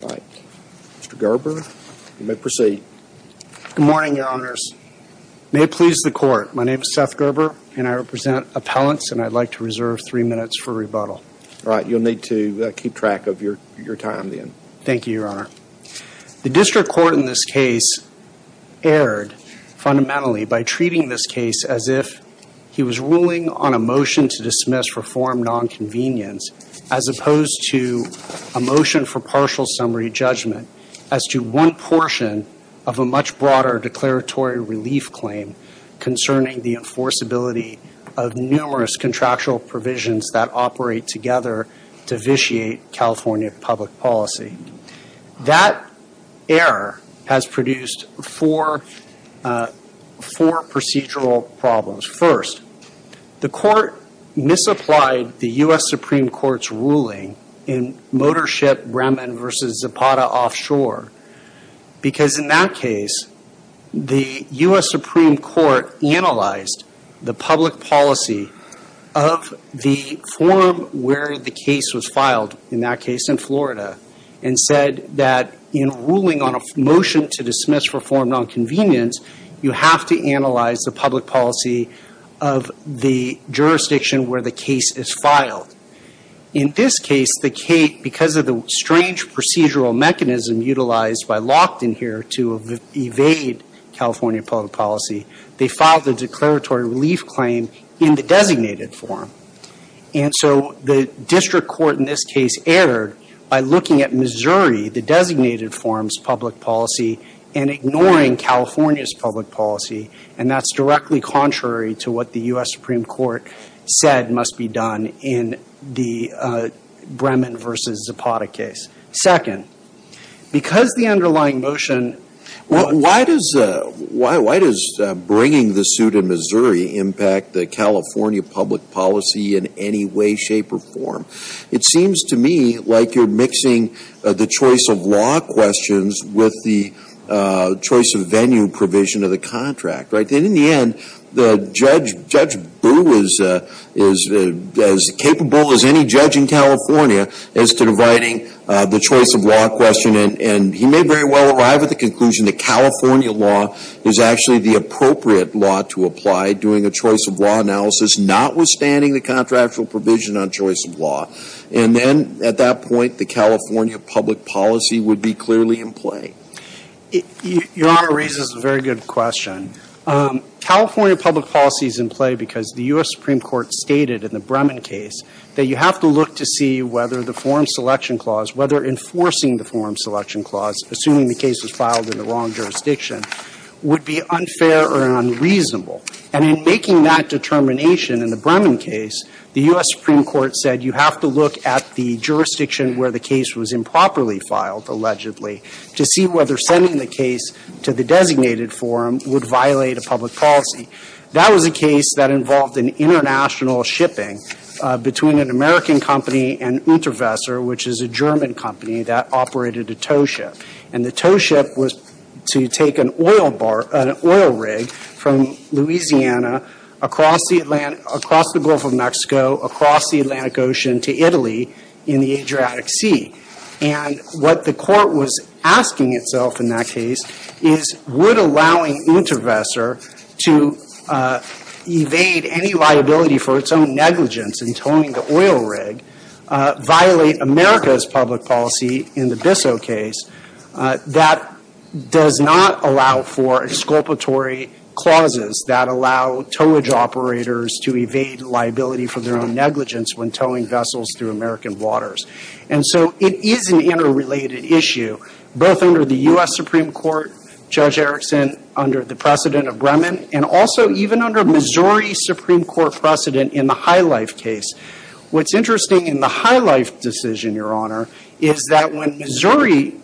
Mr. Gerber, you may proceed. Good morning, Your Honors. May it please the Court, my name is Seth Gerber and I represent appellants and I'd like to reserve three minutes for rebuttal. All right, you'll need to keep track of your time then. Thank you, Your Honor. The District Court in this case erred fundamentally by treating this case as if he was ruling on a motion to dismiss for form nonconvenience as opposed to a motion for partial summary judgment as to one portion of a much broader declaratory relief claim concerning the enforceability of numerous contractual provisions that operate together to vitiate California public policy. That error has produced four procedural problems. First, the Court misapplied the U.S. Supreme Court's ruling in Motor Ship Bremen v. Zapata Offshore because in that case the U.S. Supreme Court analyzed the public policy of the form where the case was filed, in that case in Florida, and said that in ruling on a motion to dismiss for form nonconvenience, you have to analyze the public policy of the jurisdiction where the case is filed. In this case, because of the strange procedural mechanism utilized by Lockton here to evade California public policy, they filed the declaratory relief claim in the designated form. And so the District Court in this case erred by looking at Missouri, the designated form's public policy, and ignoring California's public policy, and that's directly contrary to what the U.S. Supreme Court said must be done in the Bremen v. Zapata case. Second, because the underlying motion – Why does bringing the suit in Missouri impact the California public policy in any way, shape, or form? It seems to me like you're mixing the choice of law questions with the choice of venue provision of the contract, right? In the end, Judge Boo is as capable as any judge in California as to dividing the choice of law question, and he may very well arrive at the conclusion that California law is actually the appropriate law to apply during a choice of law analysis, notwithstanding the contractual provision on choice of law. And then, at that point, the California public policy would be clearly in play. Your Honor raises a very good question. California public policy is in play because the U.S. Supreme Court stated in the Bremen case that you have to look to see whether the forum selection clause, whether enforcing the forum selection clause, assuming the case was filed in the wrong jurisdiction, would be unfair or unreasonable. And in making that determination in the Bremen case, the U.S. Supreme Court said you have to look at the jurisdiction where the case was improperly filed, allegedly, to see whether sending the case to the designated forum would violate a public policy. That was a case that involved an international shipping between an American company and Unterwesser, which is a German company that operated a tow ship. And the tow ship was to take an oil rig from Louisiana across the Gulf of Mexico, across the Atlantic Ocean to Italy in the Adriatic Sea. And what the Court was asking itself in that case is would allowing Unterwesser to evade any liability for its own negligence in towing the oil rig violate America's public policy in the Bissell case that does not allow for exculpatory clauses that allow towage operators to evade liability for their own negligence when towing vessels through American waters. And so it is an interrelated issue, both under the U.S. Supreme Court, Judge Erickson, under the precedent of Bremen, and also even under Missouri Supreme Court precedent in the High Life case. What's interesting in the High Life decision, Your Honor, is that when Missouri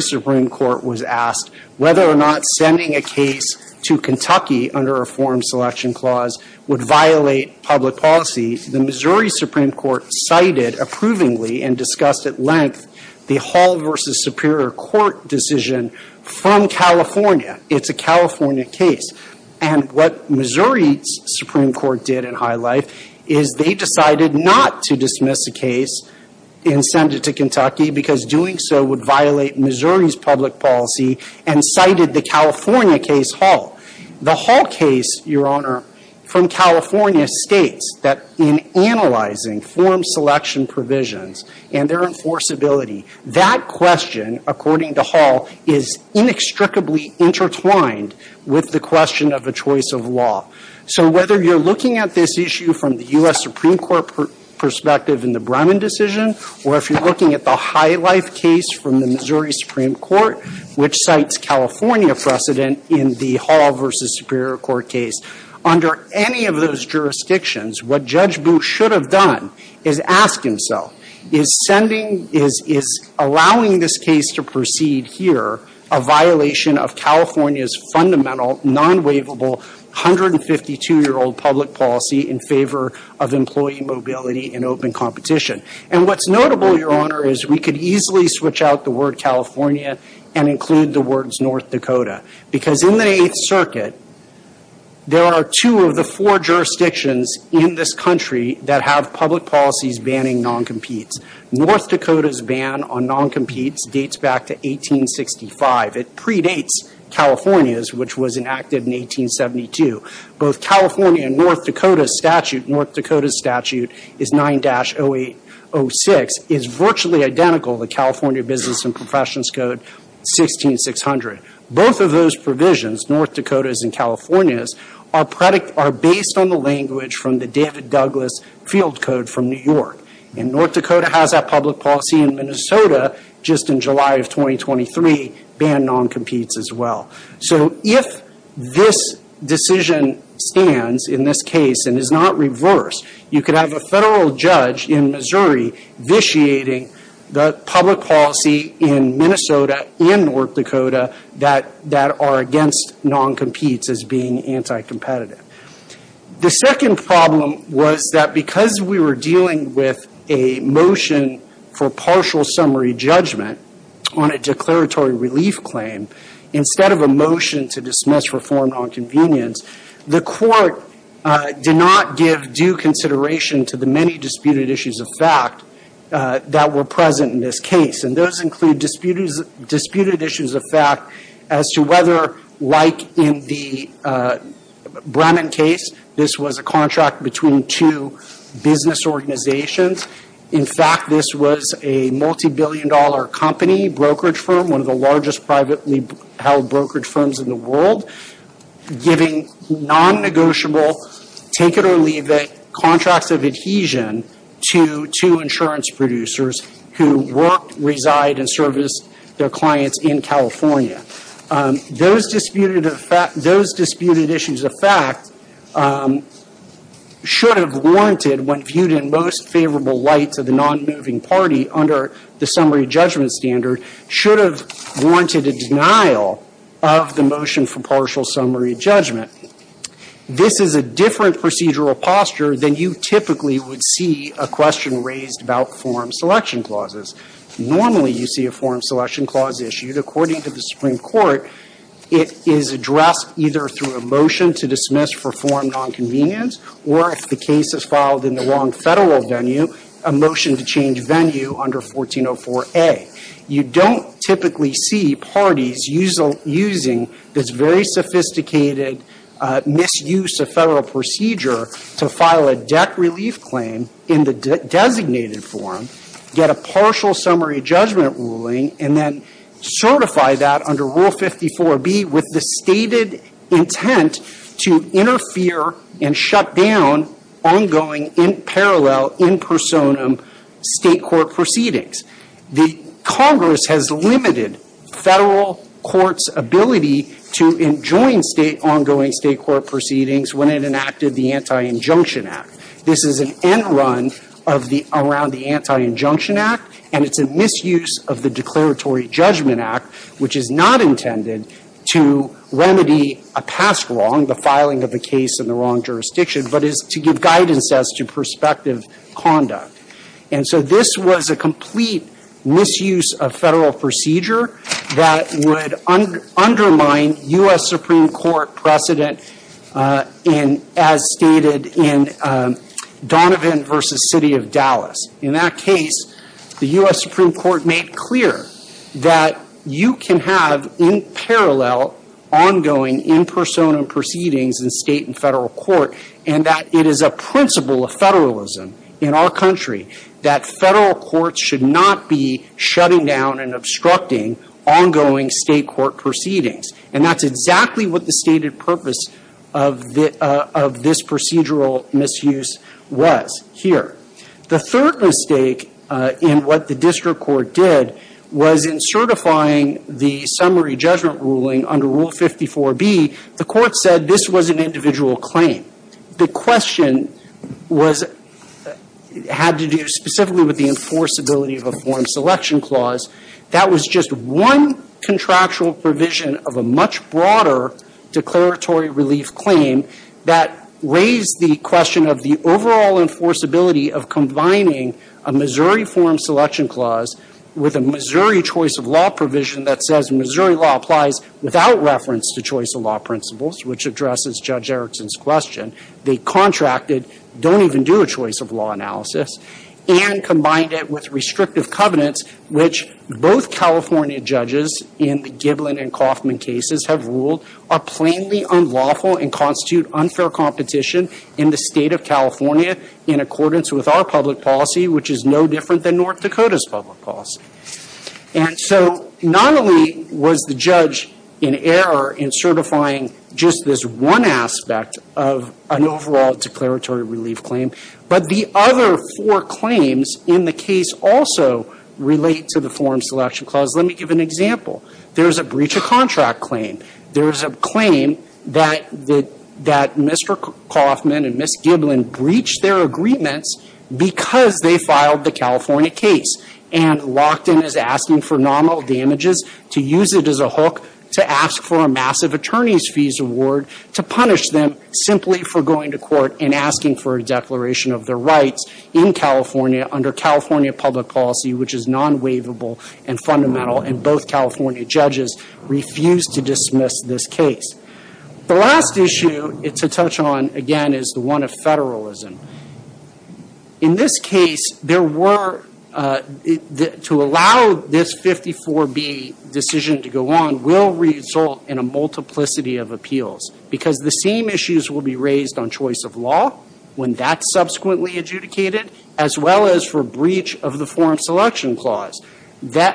Supreme Court was asked whether or not sending a case to Kentucky under a forum selection clause would violate public policy, the Missouri Supreme Court cited approvingly and discussed at length the Hall v. Superior Court decision from California. It's a California case. And what Missouri Supreme Court did in High Life is they decided not to dismiss a case and send it to Kentucky because doing so would violate Missouri's public policy and cited the California case Hall. The Hall case, Your Honor, from California states that in analyzing forum selection provisions and their enforceability, that question, according to Hall, is inextricably intertwined with the question of a choice of law. So whether you're looking at this issue from the U.S. Supreme Court perspective in the Bremen decision or if you're looking at the High Life case from the Missouri Supreme Court perspective in the Hall v. Superior Court case, under any of those jurisdictions, what Judge Booth should have done is ask himself, is sending, is allowing this case to proceed here a violation of California's fundamental non-waivable 152-year-old public policy in favor of employee mobility and open competition? And what's notable, Your Honor, is we could easily switch out the word California and include the words North Dakota. Because in the Eighth Circuit, there are two of the four jurisdictions in this country that have public policies banning non-competes. North Dakota's ban on non-competes dates back to 1865. It predates California's, which was enacted in 1872. Both California and North Dakota's statute, North Dakota's statute is 9-0806, is virtually identical to the California Business and Professions Code, 16-600. Both of those provisions, North Dakota's and California's, are based on the language from the David Douglas Field Code from New York. And North Dakota has that public policy, and Minnesota, just in July of 2023, banned non-competes as well. So if this decision stands in this case and is not reversed, you could have a federal judge in Missouri vitiating the public policy in Minnesota and North Dakota that are against non-competes as being anti-competitive. The second problem was that because we were dealing with a motion for partial summary judgment on a declaratory relief claim instead of a motion to dismiss reformed nonconvenience, the court did not give due consideration to the many disputed issues of fact that were present in this case. And those include disputed issues of fact as to whether, like in the Bremen case, this was a contract between two business organizations. In fact, this was a multibillion-dollar company, brokerage firm, one of the largest privately-held brokerage firms in the world, giving non-negotiable take-it-or-leave-it contracts of adhesion to insurance producers who work, reside, and service their clients in California. Those disputed issues of fact should have warranted what viewed in most favorable light to the non-moving party under the summary judgment standard should have warranted a denial of the motion for partial summary judgment. This is a different procedural posture than you typically would see a question raised about form selection clauses. Normally, you see a form selection clause issued. According to the Supreme Court, it is addressed either through a motion to dismiss reformed nonconvenience or, if the case is filed in the wrong federal venue, a motion to change venue under 1404A. You don't typically see parties using this very sophisticated misuse of federal procedure to file a debt relief claim in the designated form, get a partial summary judgment ruling, and then certify that under Rule 54B with the stated intent to interfere and shut down ongoing, in parallel, in personam state court proceedings. The Congress has limited federal courts' ability to enjoin state ongoing state court proceedings when it enacted the Anti-Injunction Act. This is an end run around the Anti-Injunction Act, and it's a misuse of the Declaratory Judgment Act, which is not intended to remedy a past wrong, the filing of the case in the wrong jurisdiction, but is to give guidance as to prospective conduct. And so this was a complete misuse of federal procedure that would undermine U.S. Supreme Court precedent as stated in Donovan v. City of Dallas. In that case, the U.S. Supreme Court made clear that you can have, in parallel, ongoing, in personam proceedings in state and federal court, and that it is a principle of federalism in our country that federal courts should not be shutting down and obstructing ongoing state court proceedings. And that's exactly what the stated purpose of this procedural misuse was here. The third mistake in what the district court did was in certifying the summary judgment ruling under Rule 54B. The court said this was an individual claim. The question had to do specifically with the enforceability of a form selection clause. That was just one contractual provision of a much broader declaratory relief claim that raised the question of the overall enforceability of combining a Missouri form selection clause with a Missouri choice of law provision that says Missouri law applies without reference to choice of law principles, which addresses Judge Erickson's question. They contracted, don't even do a choice of law analysis, and combined it with restrictive covenants, which both California judges in the Giblin and Kauffman cases have ruled are plainly unlawful and constitute unfair competition in the state of California in accordance with our public policy, which is no different than North Dakota's public policy. And so not only was the judge in error in certifying just this one aspect of an overall declaratory relief claim, but the other four claims in the case also relate to the form selection clause. Let me give an example. There's a breach of contract claim. There's a claim that Mr. Kauffman and Ms. Giblin breached their agreements because they filed the California case. And Lockton is asking for nominal damages to use it as a hook to ask for a massive attorney's fees award to punish them simply for going to court and asking for a declaration of their rights in California under California public policy, which is non-waivable and fundamental, and both California judges refused to dismiss this case. The last issue to touch on, again, is the one of federalism. In this case, to allow this 54B decision to go on will result in a multiplicity of appeals because the same issues will be raised on choice of law when that's subsequently adjudicated, as well as for breach of the form selection clause.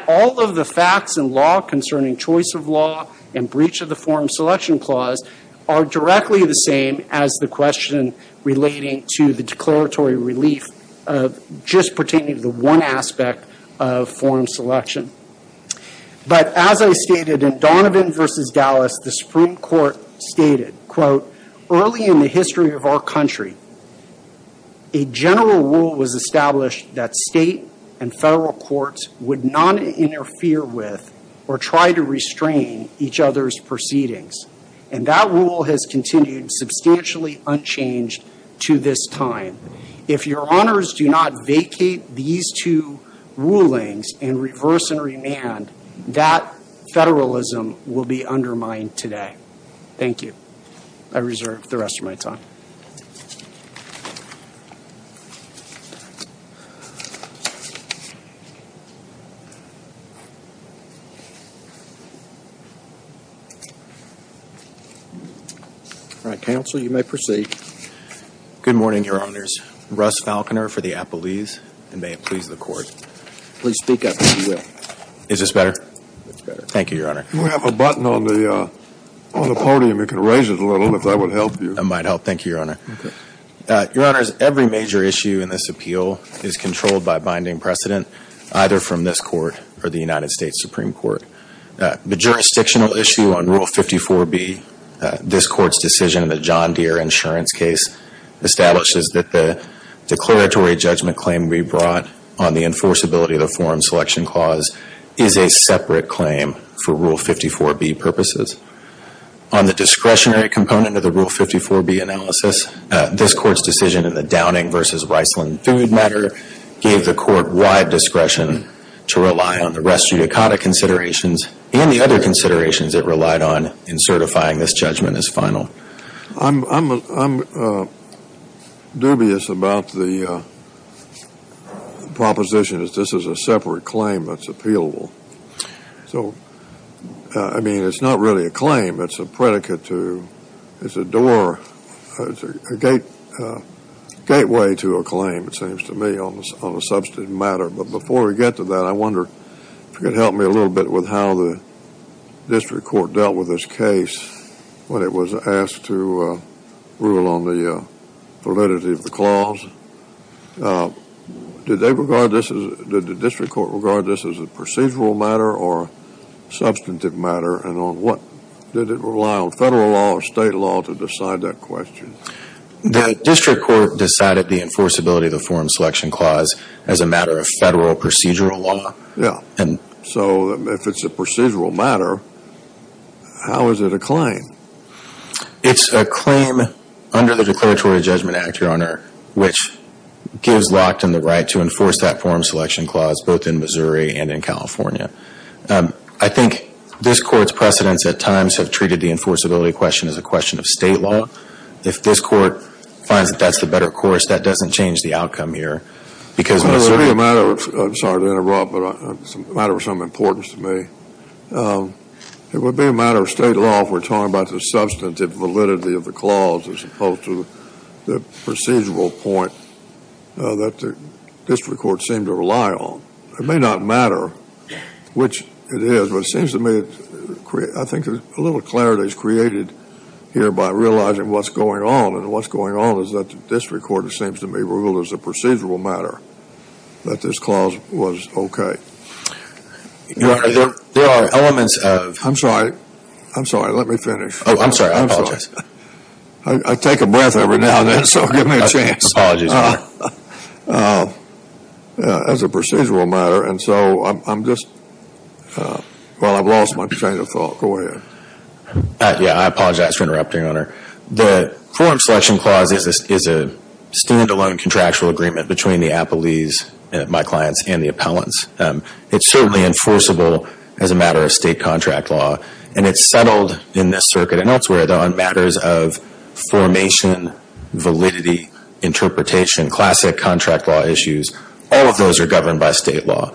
All of the facts and law concerning choice of law and breach of the form selection clause are directly the same as the question relating to the declaratory relief just pertaining to the one aspect of form selection. But as I stated, in Donovan v. Dallas, the Supreme Court stated, quote, early in the history of our country, a general rule was established that state and federal courts would not interfere with or try to restrain each other's proceedings. And that rule has continued substantially unchanged to this time. If your honors do not vacate these two rulings and reverse and remand, that federalism will be undermined today. Thank you. I reserve the rest of my time. All right, counsel, you may proceed. Good morning, your honors. Russ Falconer for the appellees, and may it please the court. Please speak up if you will. Is this better? It's better. Thank you, your honor. You have a button on the podium. You can raise it a little, if that would help you. That might help. Thank you, your honor. Okay. Your honors, every major issue in this appeal is controlled by binding precedent, either from this court or the United States Supreme Court. The jurisdictional issue on Rule 54B, this court's decision in the John Deere insurance case, establishes that the declaratory judgment claim we brought on the enforceability of the Foreign Selection Clause is a separate claim for Rule 54B purposes. On the discretionary component of the Rule 54B analysis, this court's decision in the Downing v. Reisland food matter gave the court wide discretion to rely on the rest judicata considerations and the other considerations it relied on in certifying this judgment as final. I'm dubious about the proposition that this is a separate claim that's appealable. So, I mean, it's not really a claim. It's a predicate to, it's a door, it's a gateway to a claim, it seems to me, on a substantive matter. But before we get to that, I wonder if you could help me a little bit with how the district court dealt with this case when it was asked to rule on the validity of the clause. Did the district court regard this as a procedural matter or a substantive matter? And did it rely on federal law or state law to decide that question? The district court decided the enforceability of the Foreign Selection Clause as a matter of federal procedural law. Yeah. So, if it's a procedural matter, how is it a claim? It's a claim under the Declaratory Judgment Act, Your Honor, which gives Lockton the right to enforce that Foreign Selection Clause both in Missouri and in California. I think this court's precedents at times have treated the enforceability question as a question of state law. If this court finds that that's the better course, that doesn't change the outcome here because Missouri It would be a matter of, I'm sorry to interrupt, but it's a matter of some importance to me. It would be a matter of state law if we're talking about the substantive validity of the clause as opposed to the procedural point that the district court seemed to rely on. It may not matter which it is, but it seems to me, I think a little clarity is created here by realizing what's going on, and what's going on is that the district court, it seems to me, ruled as a procedural matter that this clause was okay. Your Honor, there are elements of... I'm sorry. I'm sorry. Let me finish. Oh, I'm sorry. I apologize. I take a breath every now and then, so give me a chance. Apologies, Your Honor. As a procedural matter, and so I'm just, well, I've lost my train of thought. Go ahead. Yeah, I apologize for interrupting, Your Honor. The Foreign Selection Clause is a stand-alone contractual agreement between the appellees, my clients, and the appellants. It's certainly enforceable as a matter of state contract law, and it's settled in this circuit and elsewhere on matters of formation, validity, interpretation, classic contract law issues. All of those are governed by state law.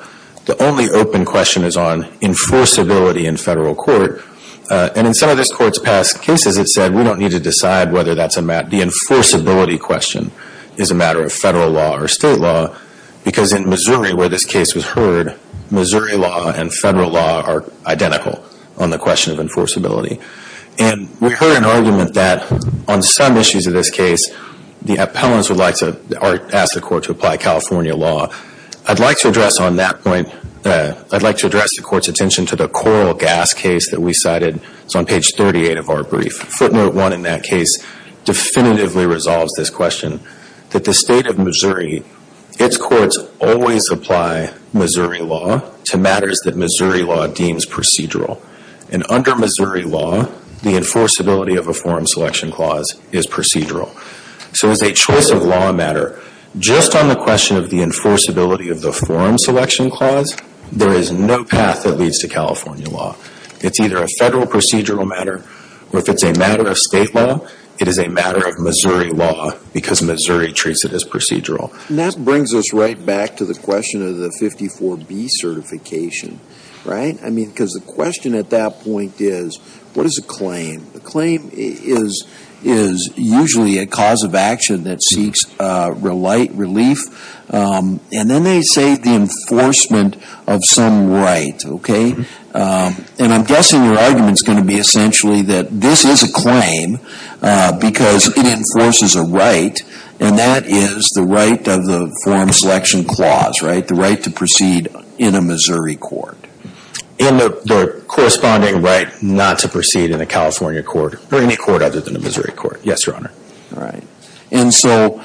The only open question is on enforceability in federal court, and in some of this Court's past cases, it said we don't need to decide whether that's a matter... the enforceability question is a matter of federal law or state law because in Missouri, where this case was heard, Missouri law and federal law are identical on the question of enforceability. And we heard an argument that on some issues of this case, the appellants would like to ask the Court to apply California law. I'd like to address on that point... I'd like to address the Court's attention to the coral gas case that we cited. It's on page 38 of our brief. Footnote 1 in that case definitively resolves this question, that the state of Missouri, its courts always apply Missouri law to matters that Missouri law deems procedural. And under Missouri law, the enforceability of a forum selection clause is procedural. So as a choice of law matter, just on the question of the enforceability of the forum selection clause, there is no path that leads to California law. It's either a federal procedural matter or if it's a matter of state law, it is a matter of Missouri law because Missouri treats it as procedural. And that brings us right back to the question of the 54B certification, right? I mean, because the question at that point is, what is a claim? A claim is usually a cause of action that seeks relief. And then they say the enforcement of some right, okay? And I'm guessing your argument is going to be essentially that this is a claim because it enforces a right, and that is the right of the forum selection clause, right? The right to proceed in a Missouri court. And the corresponding right not to proceed in a California court or any court other than a Missouri court. Yes, Your Honor. All right. And so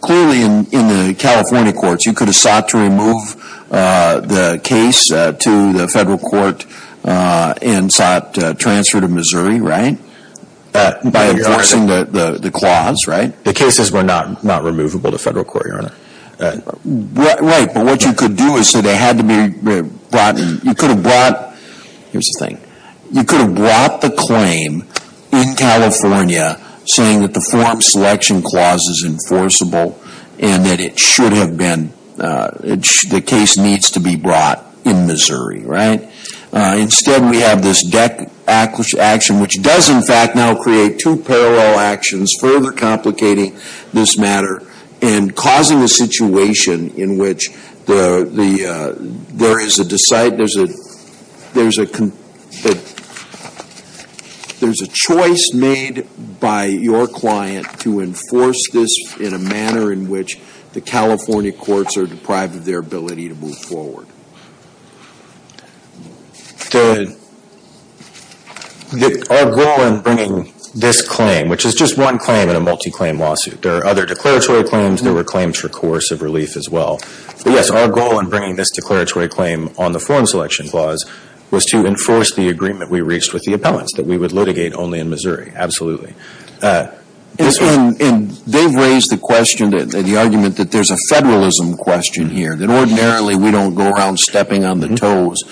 clearly in the California courts, you could have sought to remove the case to the federal court and sought transfer to Missouri, right, by enforcing the clause, right? The cases were not removable to federal court, Your Honor. Right. But what you could do is say they had to be brought in. You could have brought the claim in California saying that the forum selection clause is enforceable and that it should have been, the case needs to be brought in Missouri, right? Instead, we have this deck action which does, in fact, now create two parallel actions further complicating this matter and causing a situation in which there is a choice made by your client to enforce this in a manner in which the California courts are deprived of their ability to move forward. Our goal in bringing this claim, which is just one claim in a multi-claim lawsuit. There are other declaratory claims. There were claims for coercive relief as well. But, yes, our goal in bringing this declaratory claim on the forum selection clause was to enforce the agreement we reached with the appellants that we would litigate only in Missouri. Absolutely. And they've raised the question, the argument that there's a federalism question here, that ordinarily we don't go around stepping on the toes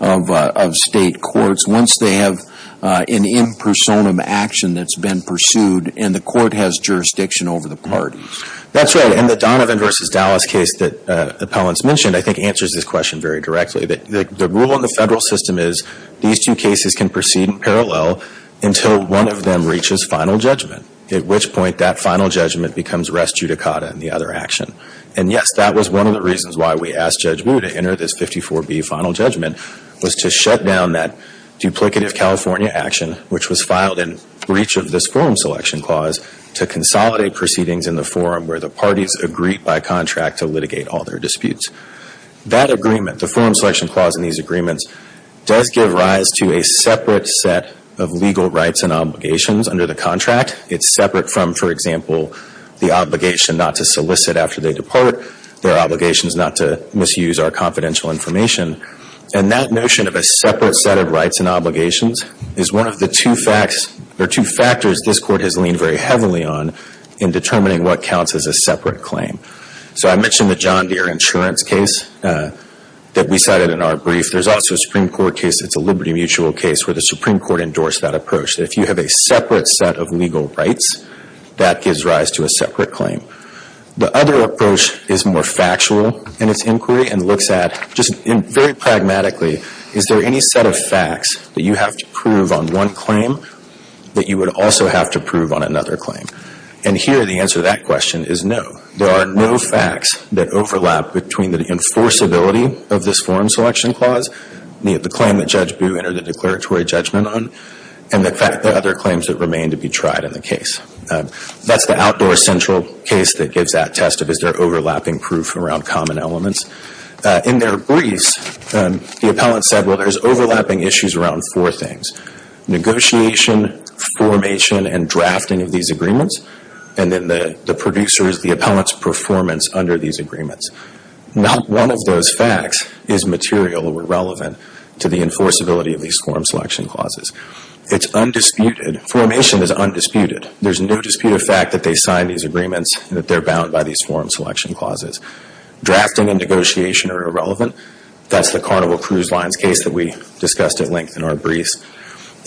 of state courts once they have an impersonum action that's been pursued and the court has jurisdiction over the parties. That's right. And the Donovan v. Dallas case that the appellants mentioned, I think, answers this question very directly. The rule in the federal system is these two cases can proceed in parallel until one of them reaches final judgment, at which point that final judgment becomes res judicata in the other action. And, yes, that was one of the reasons why we asked Judge Wu to enter this 54B final judgment was to shut down that duplicative California action, which was filed in breach of this forum selection clause, to consolidate proceedings in the forum where the parties agreed by contract to litigate all their disputes. That agreement, the forum selection clause in these agreements, does give rise to a separate set of legal rights and obligations under the contract. It's separate from, for example, the obligation not to solicit after they depart, their obligations not to misuse our confidential information. And that notion of a separate set of rights and obligations is one of the two facts, or two factors this court has leaned very heavily on in determining what counts as a separate claim. So I mentioned the John Deere insurance case that we cited in our brief. There's also a Supreme Court case that's a liberty mutual case where the Supreme Court endorsed that approach, that if you have a separate set of legal rights, that gives rise to a separate claim. The other approach is more factual in its inquiry and looks at, just very pragmatically, is there any set of facts that you have to prove on one claim that you would also have to prove on another claim? And here the answer to that question is no. There are no facts that overlap between the enforceability of this forum selection clause, the claim that Judge Boo entered a declaratory judgment on, and the other claims that remain to be tried in the case. That's the outdoor central case that gives that test of is there overlapping proof around common elements. In their briefs, the appellant said, well, there's overlapping issues around four things, negotiation, formation, and drafting of these agreements. And then the producers, the appellant's performance under these agreements. Not one of those facts is material or relevant to the enforceability of these forum selection clauses. It's undisputed. Formation is undisputed. There's no dispute of fact that they signed these agreements and that they're bound by these forum selection clauses. Drafting and negotiation are irrelevant. That's the Carnival Cruise Lines case that we discussed at length in our briefs.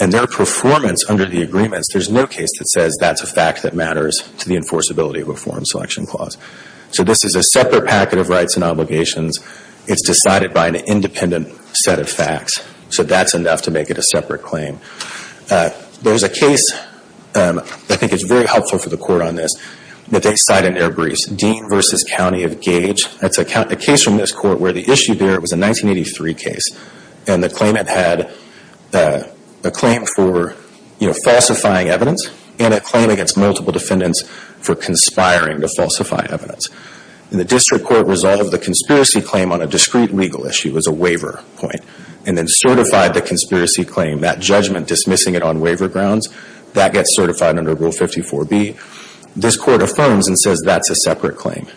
And their performance under the agreements, there's no case that says that's a fact that matters to the enforceability of a forum selection clause. So this is a separate packet of rights and obligations. It's decided by an independent set of facts. So that's enough to make it a separate claim. There's a case, I think it's very helpful for the Court on this, that they cite in their briefs. Dean v. County of Gage. That's a case from this Court where the issue there was a 1983 case. And the claimant had a claim for falsifying evidence and a claim against multiple defendants for conspiring to falsify evidence. And the District Court resolved the conspiracy claim on a discrete legal issue as a waiver point and then certified the conspiracy claim. That judgment dismissing it on waiver grounds, that gets certified under Rule 54B. This Court affirms and says that's a separate claim.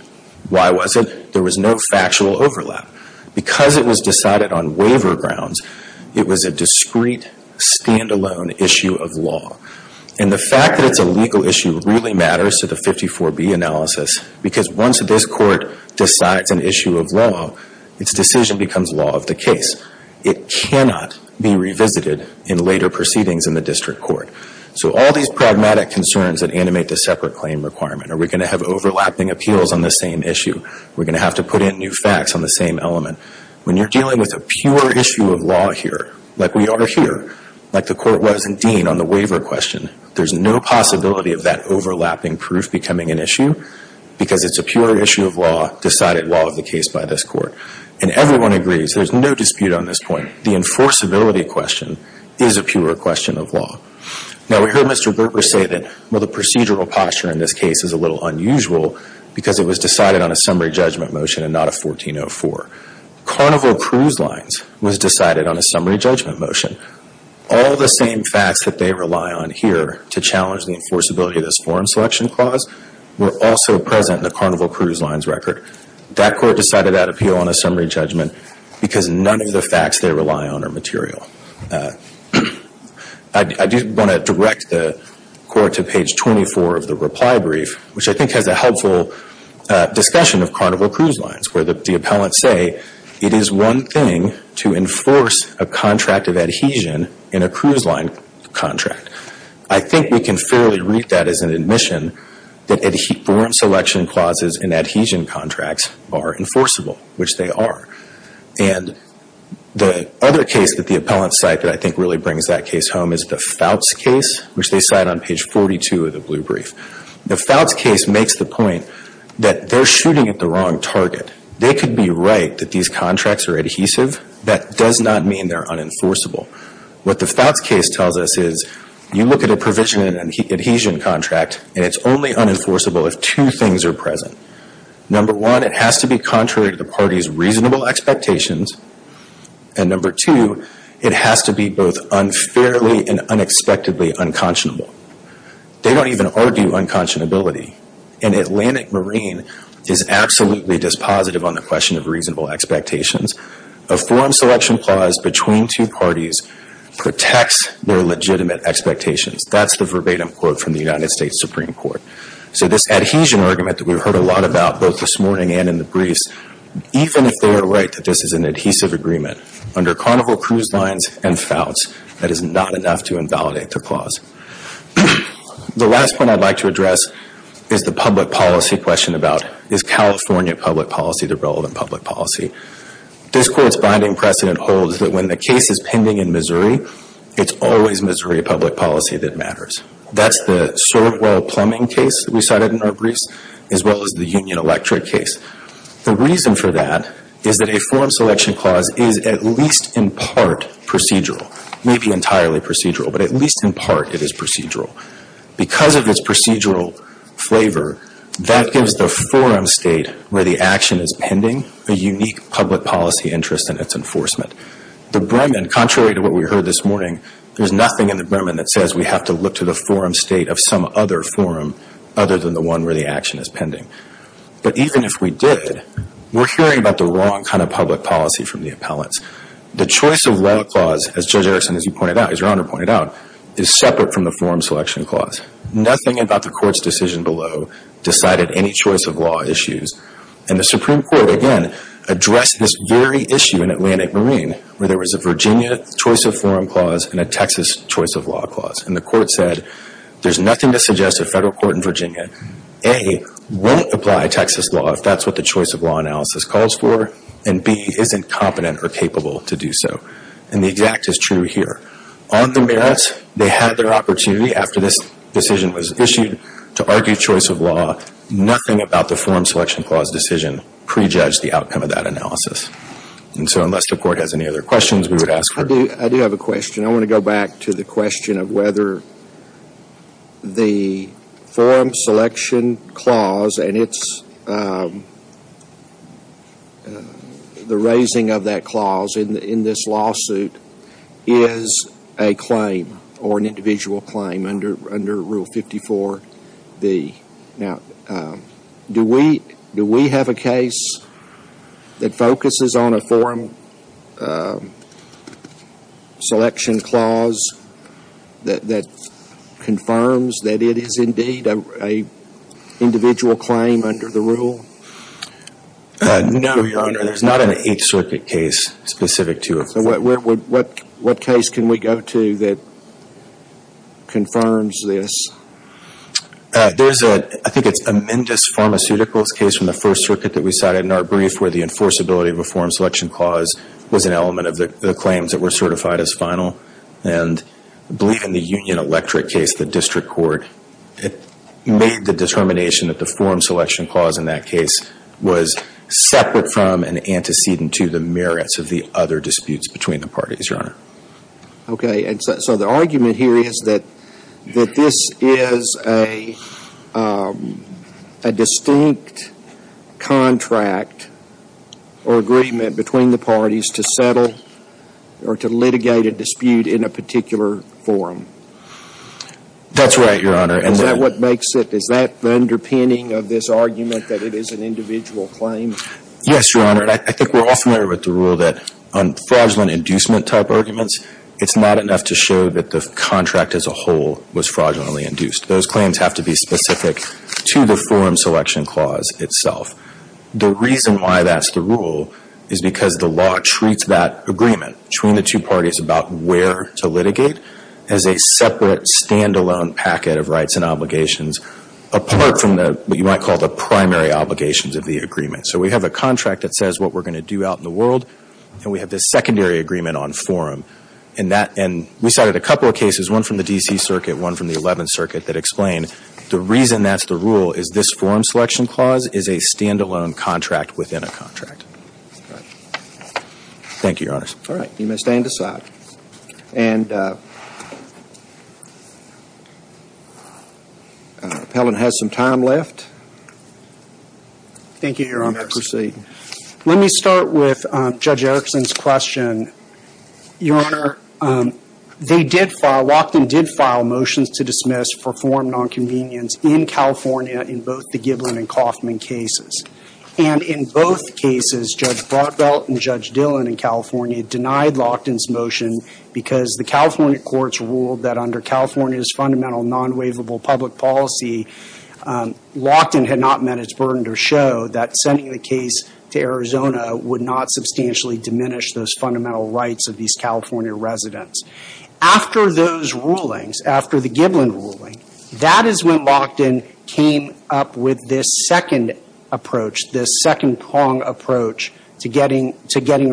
Why was it? There was no factual overlap. Because it was decided on waiver grounds, it was a discrete, stand-alone issue of law. And the fact that it's a legal issue really matters to the 54B analysis because once this Court decides an issue of law, its decision becomes law of the case. It cannot be revisited in later proceedings in the District Court. So all these pragmatic concerns that animate the separate claim requirement, are we going to have overlapping appeals on the same issue? We're going to have to put in new facts on the same element. When you're dealing with a pure issue of law here, like we are here, like the Court was in Dean on the waiver question, there's no possibility of that overlapping proof becoming an issue because it's a pure issue of law, decided law of the case by this Court. And everyone agrees, there's no dispute on this point. The enforceability question is a pure question of law. Now we heard Mr. Gerber say that, well, the procedural posture in this case is a little unusual because it was decided on a summary judgment motion and not a 1404. Carnival Cruise Lines was decided on a summary judgment motion. All the same facts that they rely on here to challenge the enforceability of this forum selection clause were also present in the Carnival Cruise Lines record. That Court decided that appeal on a summary judgment because none of the facts they rely on are material. I do want to direct the Court to page 24 of the reply brief, which I think has a helpful discussion of Carnival Cruise Lines, where the appellants say, it is one thing to enforce a contract of adhesion in a cruise line contract. I think we can fairly read that as an admission that forum selection clauses in adhesion contracts are enforceable, which they are. And the other case that the appellants cite that I think really brings that case home is the Fouts case, which they cite on page 42 of the blue brief. The Fouts case makes the point that they're shooting at the wrong target. They could be right that these contracts are adhesive. That does not mean they're unenforceable. What the Fouts case tells us is, you look at a provision in an adhesion contract, and it's only unenforceable if two things are present. Number one, it has to be contrary to the party's reasonable expectations. And number two, it has to be both unfairly and unexpectedly unconscionable. They don't even argue unconscionability. An Atlantic Marine is absolutely dispositive on the question of reasonable expectations. A forum selection clause between two parties protects their legitimate expectations. That's the verbatim quote from the United States Supreme Court. So this adhesion argument that we've heard a lot about both this morning and in the briefs, even if they are right that this is an adhesive agreement, under Carnival Cruise Lines and Fouts, that is not enough to invalidate the clause. The last point I'd like to address is the public policy question about, is California public policy the relevant public policy? This Court's binding precedent holds that when the case is pending in Missouri, it's always Missouri public policy that matters. That's the Sirwell plumbing case that we cited in our briefs, as well as the Union Electric case. The reason for that is that a forum selection clause is at least in part procedural. Maybe entirely procedural, but at least in part it is procedural. Because of its procedural flavor, that gives the forum state where the action is pending a unique public policy interest in its enforcement. The Bremen, contrary to what we heard this morning, there's nothing in the Bremen that says we have to look to the forum state of some other forum other than the one where the action is pending. But even if we did, we're hearing about the wrong kind of public policy from the appellants. The choice of law clause, as Judge Erickson, as you pointed out, as Your Honor pointed out, is separate from the forum selection clause. Nothing about the Court's decision below decided any choice of law issues. And the Supreme Court, again, addressed this very issue in Atlantic Marine where there was a Virginia choice of forum clause and a Texas choice of law clause. And the Court said there's nothing to suggest a federal court in Virginia, A, won't apply Texas law if that's what the choice of law analysis calls for, and B, isn't competent or capable to do so. And the exact is true here. On the merits, they had their opportunity after this decision was issued to argue choice of law. Nothing about the forum selection clause decision prejudged the outcome of that analysis. And so unless the Court has any other questions, we would ask for it. I do have a question. I want to go back to the question of whether the forum selection clause and the raising of that clause in this lawsuit is a claim or an individual claim under Rule 54B. Now, do we have a case that focuses on a forum selection clause that confirms that it is indeed an individual claim under the rule? No, Your Honor. There's not an each circuit case specific to a forum. What case can we go to that confirms this? There's a, I think it's Amendous Pharmaceuticals case from the First Circuit that we cited in our brief where the enforceability of a forum selection clause was an element of the claims that were certified as final. And I believe in the Union Electric case, the district court, it made the determination that the forum selection clause in that case was separate from and antecedent to the merits of the other disputes between the parties, Your Honor. Okay. So the argument here is that this is a distinct contract or agreement between the parties to settle or to litigate a dispute in a particular forum. That's right, Your Honor. Is that what makes it, is that the underpinning of this argument that it is an individual claim? Yes, Your Honor. And I think we're all familiar with the rule that on fraudulent inducement type arguments, it's not enough to show that the contract as a whole was fraudulently induced. Those claims have to be specific to the forum selection clause itself. The reason why that's the rule is because the law treats that agreement between the two parties about where to litigate as a separate stand-alone packet of rights and obligations apart from what you might call the primary obligations of the agreement. So we have a contract that says what we're going to do out in the world, and we have this secondary agreement on forum. And we cited a couple of cases, one from the D.C. Circuit, one from the Eleventh Circuit, that explain the reason that's the rule is this forum selection clause is a stand-alone contract within a contract. All right. Thank you, Your Honors. All right. You may stand aside. And Appellant has some time left. Thank you, Your Honors. Let me start with Judge Erickson's question. Your Honor, they did file, Lockton did file motions to dismiss for forum nonconvenience in California in both the Giblin and Kauffman cases. And in both cases, Judge Broadbelt and Judge Dillon in California denied Lockton's motion because the California courts ruled that under California's fundamental nonwaivable public policy, Lockton had not met its burden to show that sending the case to Arizona would not substantially diminish those fundamental rights of these California residents. After those rulings, after the Giblin ruling, that is when Lockton came up with this second approach, this second prong approach to getting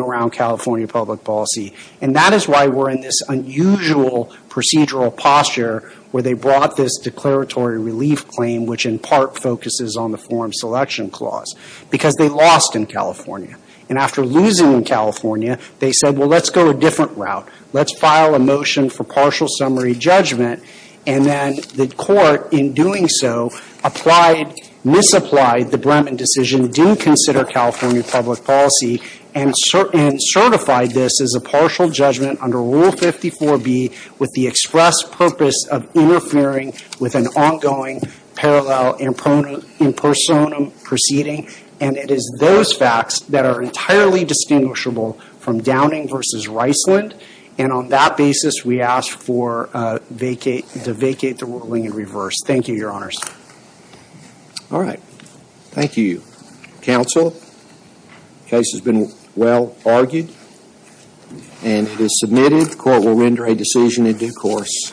around California public policy. And that is why we're in this unusual procedural posture where they brought this declaratory relief claim, which in part focuses on the forum selection clause, because they lost in California. And after losing in California, they said, well, let's go a different route. Let's file a motion for partial summary judgment. And then the court, in doing so, applied, misapplied the Bremen decision, didn't consider California public policy, and certified this as a partial judgment under Rule 54B with the express purpose of interfering with an ongoing parallel impersonum proceeding. And it is those facts that are entirely distinguishable from Downing v. Reisland. And on that basis, we ask to vacate the ruling in reverse. Thank you, Your Honors. All right. Thank you, counsel. The case has been well argued and it is submitted. The court will render a decision in due course.